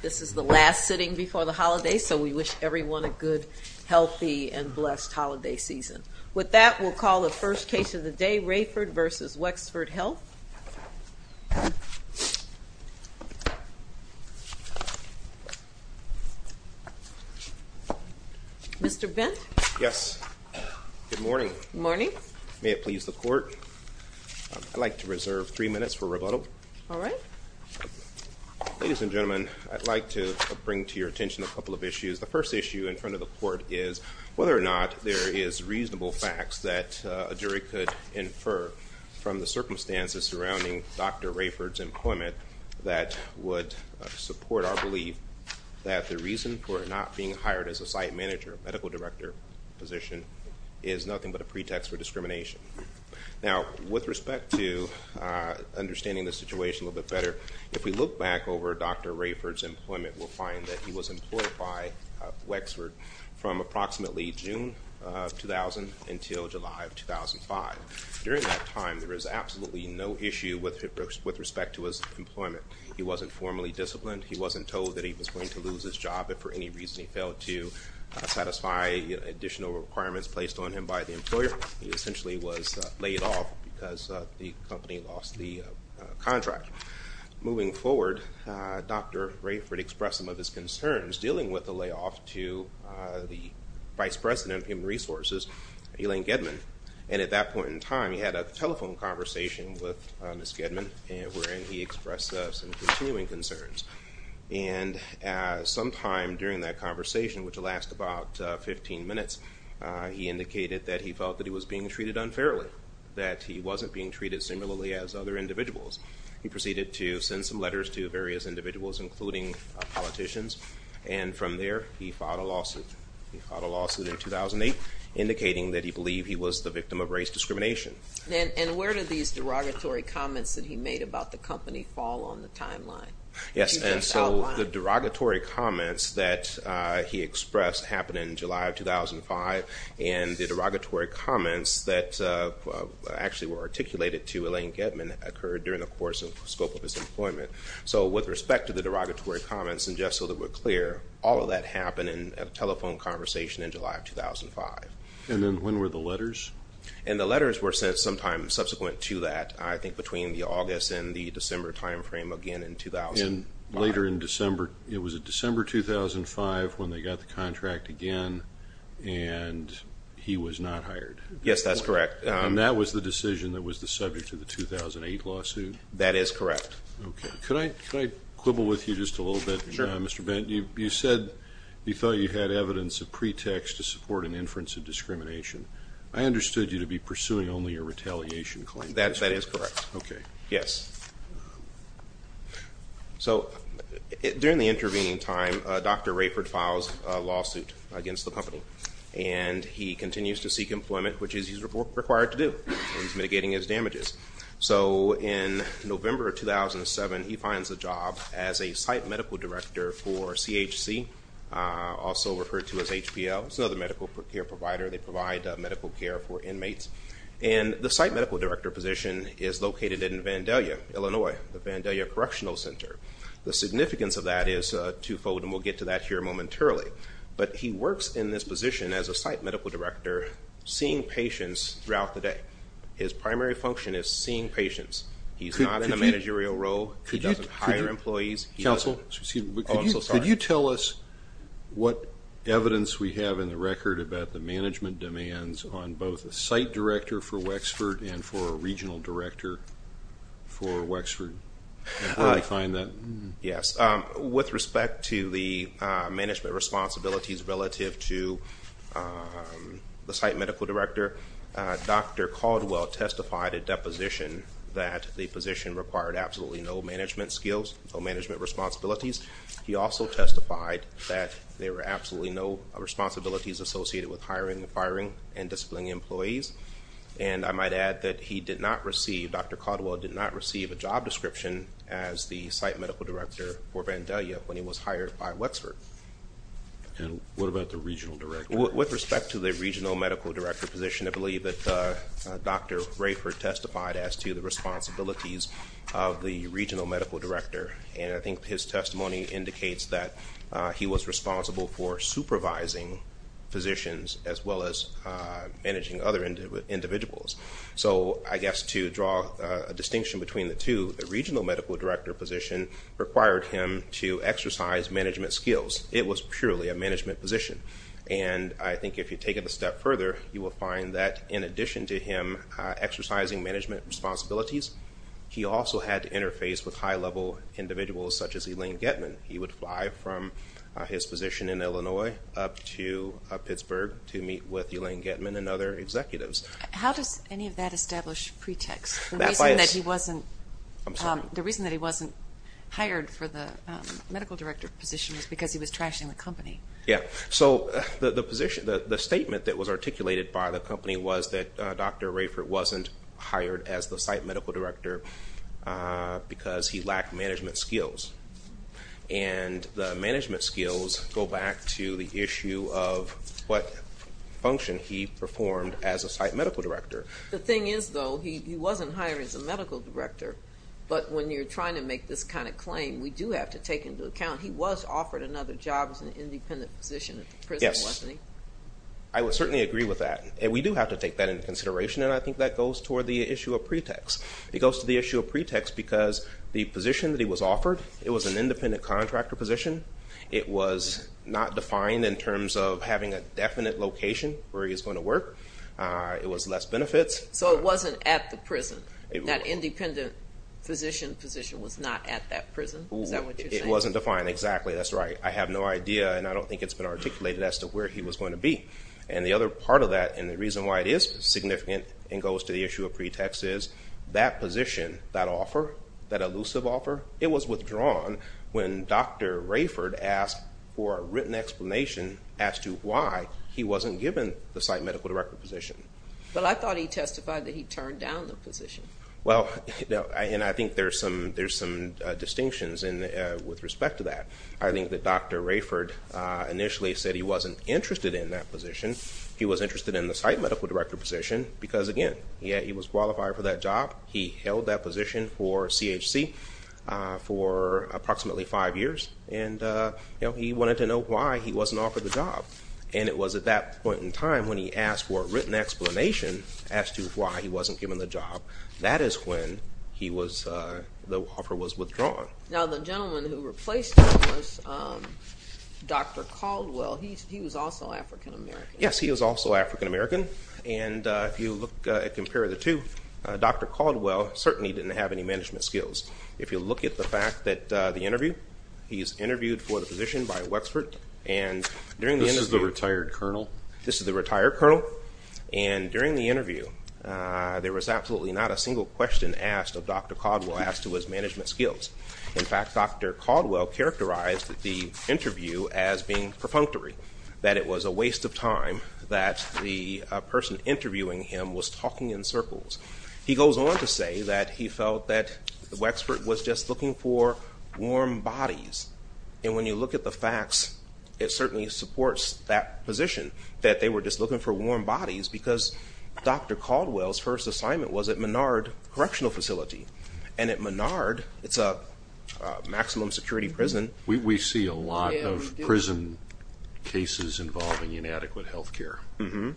This is the last sitting before the holidays, so we wish everyone a good, healthy, and blessed holiday season. With that, we'll call the first case of the day, Rayford v. Wexford Health. Mr. Bent? Yes. Good morning. Good morning. May it please the court, I'd like to reserve three minutes for rebuttal. All right. Ladies and gentlemen, I'd like to bring to your attention a couple of issues. The first issue in front of the court is whether or not there is reasonable facts that a jury could infer from the circumstances surrounding Dr. Rayford's employment that would support our belief that the reason for not being hired as a site manager, a medical director position, is nothing but a pretext for discrimination. Now, with respect to understanding the situation a little bit better, if we look back over Dr. Rayford's employment, we'll find that he was employed by Wexford from approximately June of 2000 until July of 2005. During that time, there was absolutely no issue with respect to his employment. He wasn't formally disciplined. He wasn't told that he was going to lose his job if for any reason he failed to satisfy additional requirements placed on him by the employer. He essentially was laid off because the company lost the contract. Moving forward, Dr. Rayford expressed some of his concerns dealing with the layoff to the vice president of human resources, Elaine Gedman. And at that point in time, he had a telephone conversation with Ms. Gedman wherein he expressed some continuing concerns. And sometime during that conversation, which lasted about 15 minutes, he indicated that he felt that he was being treated unfairly, that he wasn't being treated similarly as other individuals. He proceeded to send some letters to various individuals, including politicians. And from there, he filed a lawsuit. He filed a lawsuit in 2008 indicating that he believed he was the victim of race discrimination. And where did these derogatory comments that he made about the company fall on the timeline? Yes, and so the derogatory comments that he expressed happened in July of 2005. And the derogatory comments that actually were articulated to Elaine Gedman occurred during the course of the scope of his employment. So with respect to the derogatory comments, and just so that we're clear, all of that happened in a telephone conversation in July of 2005. And then when were the letters? And the letters were sent sometime subsequent to that. I think between the August and the December time frame again in 2005. And later in December, it was December 2005 when they got the contract again, and he was not hired. Yes, that's correct. And that was the decision that was the subject of the 2008 lawsuit? That is correct. Okay. Could I quibble with you just a little bit? Sure. Mr. Benton, you said you thought you had evidence of pretext to support an inference of discrimination. I understood you to be pursuing only a retaliation claim. That is correct. Okay. Yes. So during the intervening time, Dr. Rayford files a lawsuit against the company. And he continues to seek employment, which is what he's required to do. He's mitigating his damages. So in November of 2007, he finds a job as a site medical director for CHC, also referred to as HPL. It's another medical care provider. They provide medical care for inmates. And the site medical director position is located in Vandalia, Illinois, the Vandalia Correctional Center. The significance of that is twofold, and we'll get to that here momentarily. But he works in this position as a site medical director, seeing patients throughout the day. His primary function is seeing patients. He's not in a managerial role. He doesn't hire employees. Counsel? Oh, I'm so sorry. Could you tell us what evidence we have in the record about the management demands on both a site director for Wexford and for a regional director for Wexford, and where we find that? Yes. With respect to the management responsibilities relative to the site medical director, Dr. Caldwell testified at deposition that the position required absolutely no management skills, no management responsibilities. He also testified that there were absolutely no responsibilities associated with hiring, firing, and disciplining employees. And I might add that he did not receive, Dr. Caldwell did not receive a job description as the site medical director for Vandalia when he was hired by Wexford. And what about the regional director? With respect to the regional medical director position, I believe that Dr. Rayford testified as to the responsibilities of the regional medical director. And I think his testimony indicates that he was responsible for supervising physicians as well as managing other individuals. So I guess to draw a distinction between the two, the regional medical director position required him to exercise management skills. It was purely a management position. And I think if you take it a step further, you will find that in addition to him exercising management responsibilities, he also had to interface with high-level individuals such as Elaine Getman. He would fly from his position in Illinois up to Pittsburgh to meet with Elaine Getman and other executives. How does any of that establish pretext? The reason that he wasn't hired for the medical director position was because he was trashing the company. Yeah. So the statement that was articulated by the company was that Dr. Rayford wasn't hired as the site medical director because he lacked management skills. And the management skills go back to the issue of what function he performed as a site medical director. The thing is, though, he wasn't hired as a medical director. But when you're trying to make this kind of claim, we do have to take into account he was offered another job in an independent position at the prison, wasn't he? Yes. I would certainly agree with that. And we do have to take that into consideration, and I think that goes toward the issue of pretext. It goes to the issue of pretext because the position that he was offered, it was an independent contractor position. It was not defined in terms of having a definite location where he was going to work. It was less benefits. So it wasn't at the prison. That independent physician position was not at that prison. Is that what you're saying? It wasn't defined. It wasn't defined exactly. That's right. I have no idea, and I don't think it's been articulated as to where he was going to be. And the other part of that and the reason why it is significant and goes to the issue of pretext is that position, that offer, that elusive offer, it was withdrawn when Dr. Rayford asked for a written explanation as to why he wasn't given the site medical director position. Well, I thought he testified that he turned down the position. Well, and I think there's some distinctions with respect to that. I think that Dr. Rayford initially said he wasn't interested in that position. He was interested in the site medical director position because, again, he was qualified for that job. He held that position for CHC for approximately five years, and he wanted to know why he wasn't offered the job. And it was at that point in time when he asked for a written explanation as to why he wasn't given the job. That is when the offer was withdrawn. Now, the gentleman who replaced him was Dr. Caldwell. He was also African-American. Yes, he was also African-American. And if you look and compare the two, Dr. Caldwell certainly didn't have any management skills. If you look at the fact that the interview, he's interviewed for the position by Wexford. This is the retired colonel? This is the retired colonel. And during the interview, there was absolutely not a single question asked of Dr. Caldwell as to his management skills. In fact, Dr. Caldwell characterized the interview as being perfunctory, that it was a waste of time, that the person interviewing him was talking in circles. He goes on to say that he felt that Wexford was just looking for warm bodies. And when you look at the facts, it certainly supports that position, that they were just looking for warm bodies because Dr. Caldwell's first assignment was at Menard Correctional Facility. And at Menard, it's a maximum security prison. We see a lot of prison cases involving inadequate health care from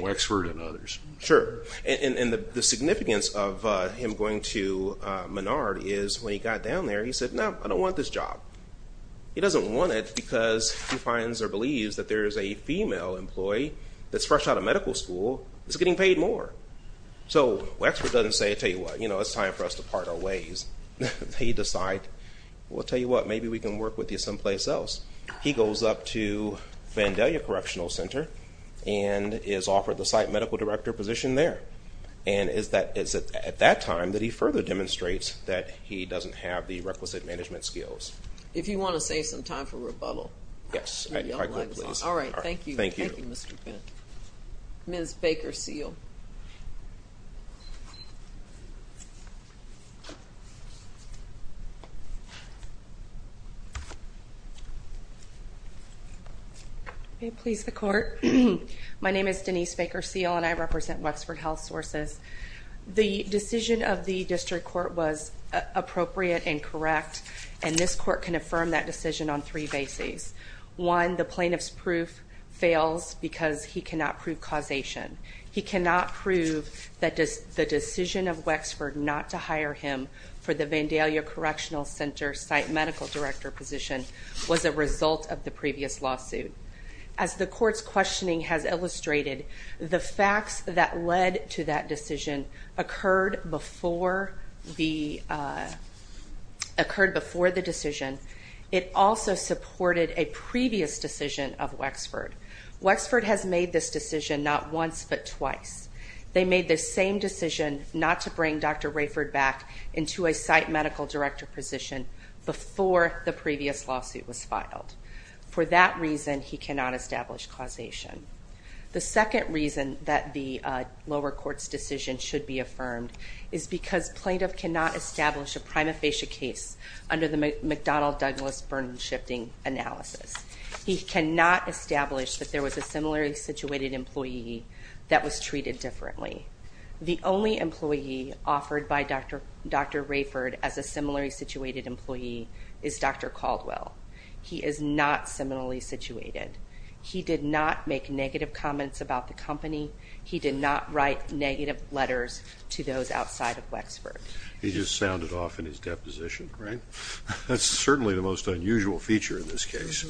Wexford and others. Sure. And the significance of him going to Menard is when he got down there, he said, no, I don't want this job. He doesn't want it because he finds or believes that there is a female employee that's fresh out of medical school that's getting paid more. So Wexford doesn't say, I tell you what, you know, it's time for us to part our ways. They decide, well, I tell you what, maybe we can work with you someplace else. He goes up to Vandalia Correctional Center and is offered the site medical director position there. And it's at that time that he further demonstrates that he doesn't have the requisite management skills. If you want to save some time for rebuttal. Yes. All right. Thank you. Thank you, Mr. Fenton. Ms. Baker Seal. May it please the Court. My name is Denise Baker Seal and I represent Wexford Health Sources. The decision of the district court was appropriate and correct, and this court can affirm that decision on three bases. One, the plaintiff's proof fails because he cannot prove causation. He cannot prove that the decision of Wexford not to hire him for the Vandalia Correctional Center site medical director position was a result of the previous lawsuit. As the court's questioning has illustrated, the facts that led to that decision occurred before the decision. It also supported a previous decision of Wexford. Wexford has made this decision not once but twice. They made the same decision not to bring Dr. Rayford back into a site medical director position before the previous lawsuit was filed. For that reason, he cannot establish causation. The second reason that the lower court's decision should be affirmed is because plaintiff cannot establish a prima facie case under the McDonnell-Douglas burden shifting analysis. He cannot establish that there was a similarly situated employee that was treated differently. The only employee offered by Dr. Rayford as a similarly situated employee is Dr. Caldwell. He is not similarly situated. He did not make negative comments about the company. He did not write negative letters to those outside of Wexford. He just sounded off in his deposition, right? That's certainly the most unusual feature in this case.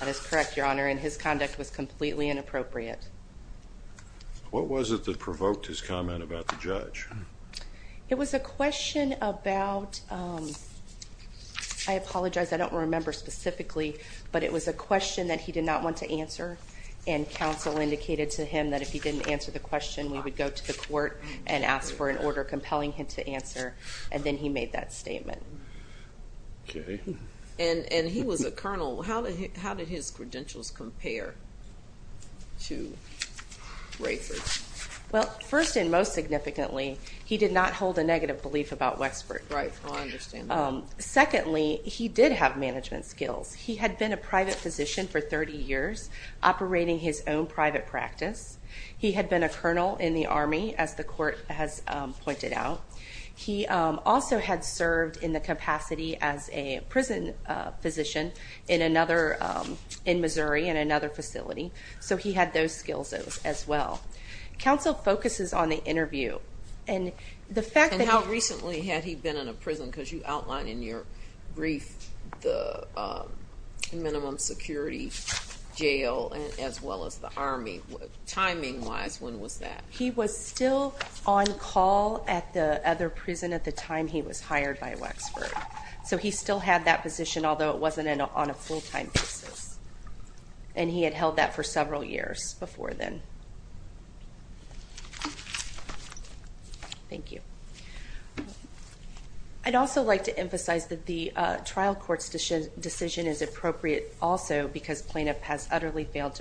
That is correct, Your Honor, and his conduct was completely inappropriate. What was it that provoked his comment about the judge? It was a question about, I apologize, I don't remember specifically, but it was a question that he did not want to answer, and counsel indicated to him that if he didn't answer the question, we would go to the court and ask for an order compelling him to answer, and then he made that statement. Okay. And he was a colonel. How did his credentials compare to Rayford? Well, first and most significantly, he did not hold a negative belief about Wexford. Right, I understand that. Secondly, he did have management skills. He had been a private physician for 30 years, operating his own private practice. He had been a colonel in the Army, as the court has pointed out. He also had served in the capacity as a prison physician in Missouri in another facility, so he had those skills as well. Counsel focuses on the interview. And how recently had he been in a prison? Because you outlined in your brief the minimum security jail as well as the Army. Timing-wise, when was that? He was still on call at the other prison at the time he was hired by Wexford. So he still had that position, although it wasn't on a full-time basis, and he had held that for several years before then. Thank you. I'd also like to emphasize that the trial court's decision is appropriate also because plaintiff has utterly failed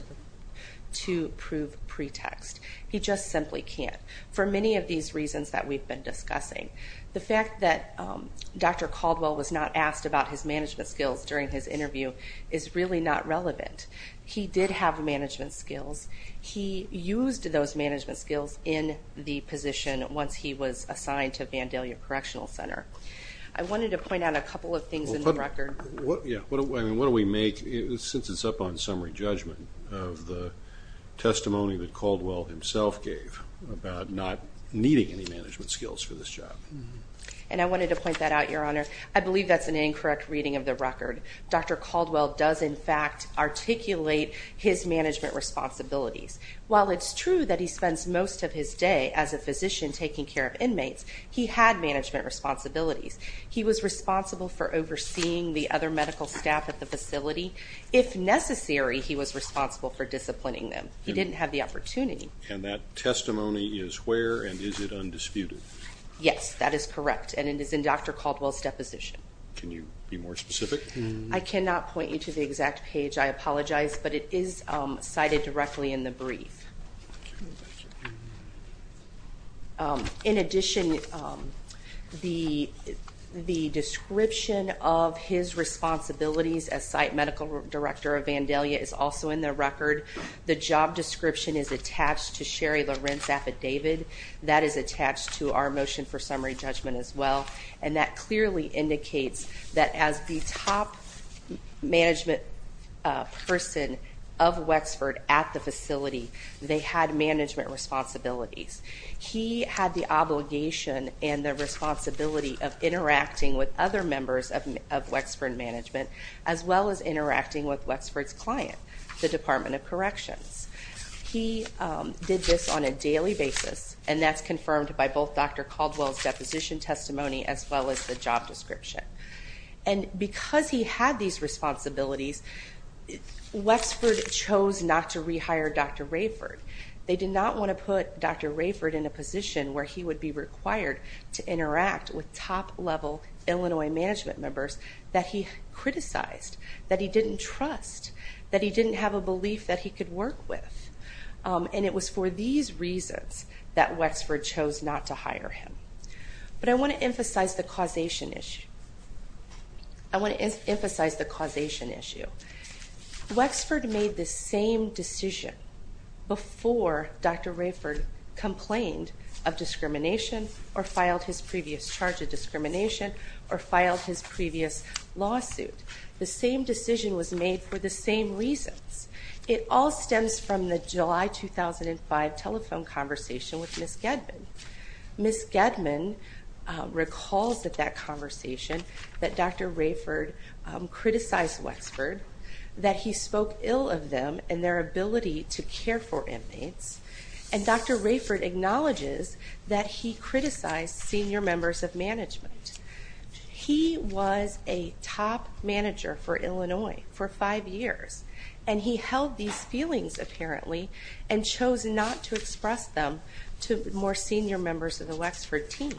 to prove pretext. He just simply can't, for many of these reasons that we've been discussing. The fact that Dr. Caldwell was not asked about his management skills during his interview is really not relevant. He did have management skills. He used those management skills in the position once he was assigned to Vandalia Correctional Center. I wanted to point out a couple of things in the record. What do we make, since it's up on summary judgment, of the testimony that Caldwell himself gave about not needing any management skills for this job? And I wanted to point that out, Your Honor. I believe that's an incorrect reading of the record. Dr. Caldwell does, in fact, articulate his management responsibilities. While it's true that he spends most of his day as a physician taking care of inmates, he had management responsibilities. He was responsible for overseeing the other medical staff at the facility. If necessary, he was responsible for disciplining them. He didn't have the opportunity. And that testimony is where, and is it undisputed? Yes, that is correct, and it is in Dr. Caldwell's deposition. Can you be more specific? I cannot point you to the exact page. I apologize, but it is cited directly in the brief. Thank you. In addition, the description of his responsibilities as site medical director of Vandalia is also in the record. The job description is attached to Sherry Loren's affidavit. That is attached to our motion for summary judgment as well. And that clearly indicates that as the top management person of Wexford at the facility, they had management responsibilities. He had the obligation and the responsibility of interacting with other members of Wexford management as well as interacting with Wexford's client, the Department of Corrections. He did this on a daily basis, and that's confirmed by both Dr. Caldwell's deposition testimony as well as the job description. And because he had these responsibilities, Wexford chose not to rehire Dr. Rayford. They did not want to put Dr. Rayford in a position where he would be required to interact with top-level Illinois management members that he criticized, that he didn't trust, that he didn't have a belief that he could work with. And it was for these reasons that Wexford chose not to hire him. But I want to emphasize the causation issue. I want to emphasize the causation issue. Wexford made the same decision before Dr. Rayford complained of discrimination or filed his previous charge of discrimination or filed his previous lawsuit. The same decision was made for the same reasons. It all stems from the July 2005 telephone conversation with Ms. Gedman. Ms. Gedman recalls at that conversation that Dr. Rayford criticized Wexford, that he spoke ill of them and their ability to care for inmates, and Dr. Rayford acknowledges that he criticized senior members of management. He was a top manager for Illinois for five years, and he held these feelings apparently and chose not to express them to more senior members of the Wexford team.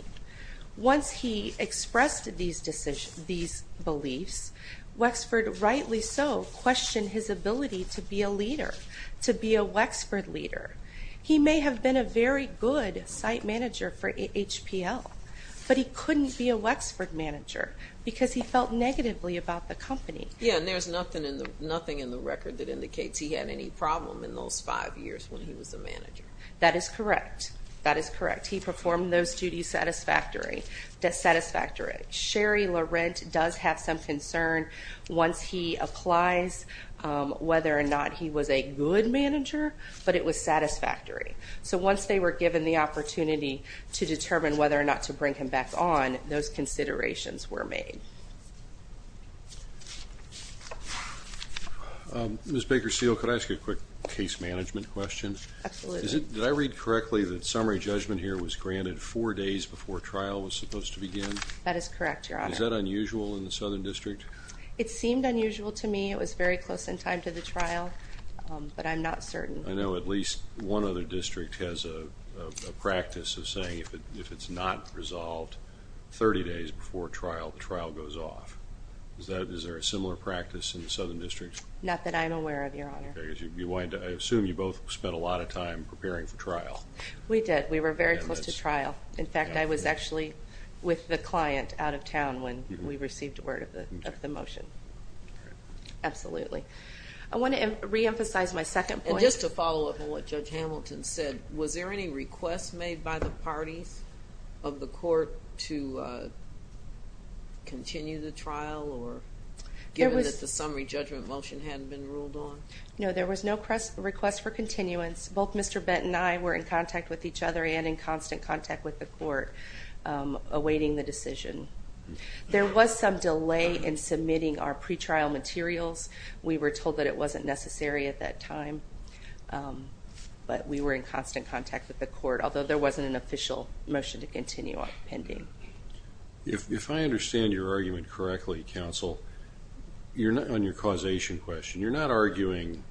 Once he expressed these beliefs, Wexford rightly so questioned his ability to be a leader, to be a Wexford leader. He may have been a very good site manager for HPL, but he couldn't be a Wexford manager because he felt negatively about the company. Yeah, and there's nothing in the record that indicates he had any problem in those five years when he was a manager. That is correct. That is correct. He performed those duties satisfactory. Sherry Laurent does have some concern once he applies whether or not he was a good manager, but it was satisfactory. So once they were given the opportunity to determine whether or not to bring him back on, those considerations were made. Ms. Bakersfield, could I ask you a quick case management question? Absolutely. Did I read correctly that summary judgment here was granted four days before trial was supposed to begin? That is correct, Your Honor. Is that unusual in the Southern District? It seemed unusual to me. It was very close in time to the trial, but I'm not certain. I know at least one other district has a practice of saying if it's not resolved 30 days before trial, the trial goes off. Is there a similar practice in the Southern District? Not that I'm aware of, Your Honor. I assume you both spent a lot of time preparing for trial. We did. We were very close to trial. In fact, I was actually with the client out of town when we received word of the motion. Absolutely. I want to reemphasize my second point. Just to follow up on what Judge Hamilton said, was there any request made by the parties of the court to continue the trial given that the summary judgment motion hadn't been ruled on? No, there was no request for continuance. Both Mr. Benton and I were in contact with each other and in constant contact with the court awaiting the decision. There was some delay in submitting our pretrial materials. We were told that it wasn't necessary at that time, but we were in constant contact with the court, although there wasn't an official motion to continue on pending. If I understand your argument correctly, counsel, on your causation question, you're not arguing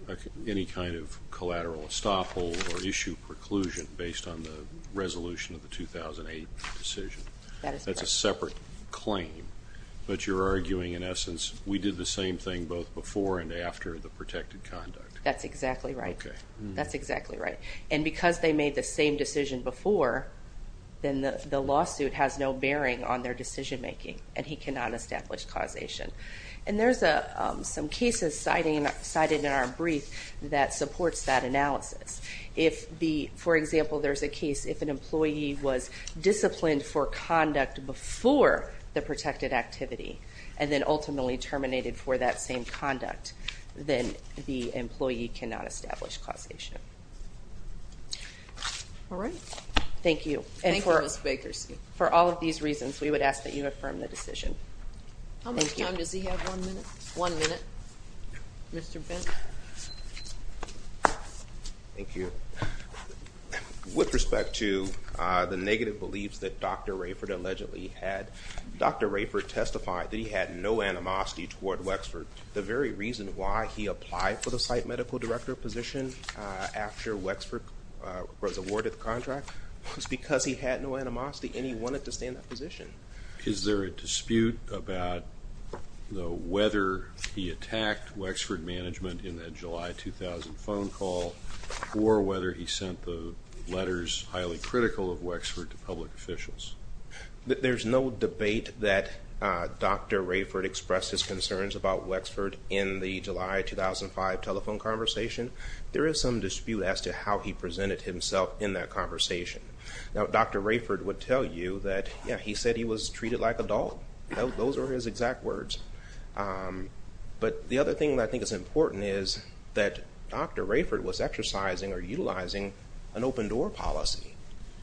any kind of collateral estoppel or issue preclusion based on the resolution of the 2008 decision. That is correct. That's a separate claim, but you're arguing in essence we did the same thing both before and after the protected conduct. That's exactly right. Okay. That's exactly right. And because they made the same decision before, then the lawsuit has no bearing on their decision making, and he cannot establish causation. And there's some cases cited in our brief that supports that analysis. For example, there's a case if an employee was disciplined for conduct before the protected activity and then ultimately terminated for that same conduct, then the employee cannot establish causation. All right. Thank you. Thank you, Ms. Bakers. For all of these reasons, we would ask that you affirm the decision. Thank you. How much time does he have? One minute. One minute. Mr. Benton. Thank you. With respect to the negative beliefs that Dr. Rayford allegedly had, Dr. Rayford testified that he had no animosity toward Wexford. The very reason why he applied for the site medical director position after Wexford was awarded the contract was because he had no animosity and he wanted to stay in that position. Is there a dispute about whether he attacked Wexford management in that July 2000 phone call or whether he sent the letters highly critical of Wexford to public officials? There's no debate that Dr. Rayford expressed his concerns about Wexford in the July 2005 telephone conversation. There is some dispute as to how he presented himself in that conversation. Now, Dr. Rayford would tell you that he said he was treated like a dog. Those are his exact words. But the other thing that I think is important is that Dr. Rayford was exercising or utilizing an open-door policy.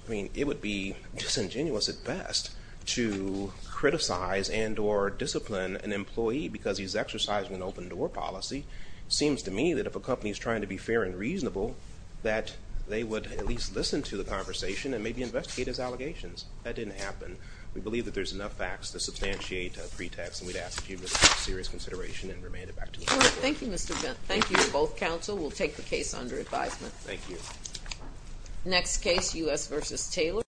I mean, it would be disingenuous at best to criticize and or discipline an employee because he's exercising an open-door policy. It seems to me that if a company is trying to be fair and reasonable, that they would at least listen to the conversation and maybe investigate his allegations. That didn't happen. We believe that there's enough facts to substantiate a pretext, and we'd ask that you take it into serious consideration and remand it back to me. Thank you, Mr. Benton. Thank you to both counsel. We'll take the case under advisement. Thank you. Next case, U.S. v. Taylor.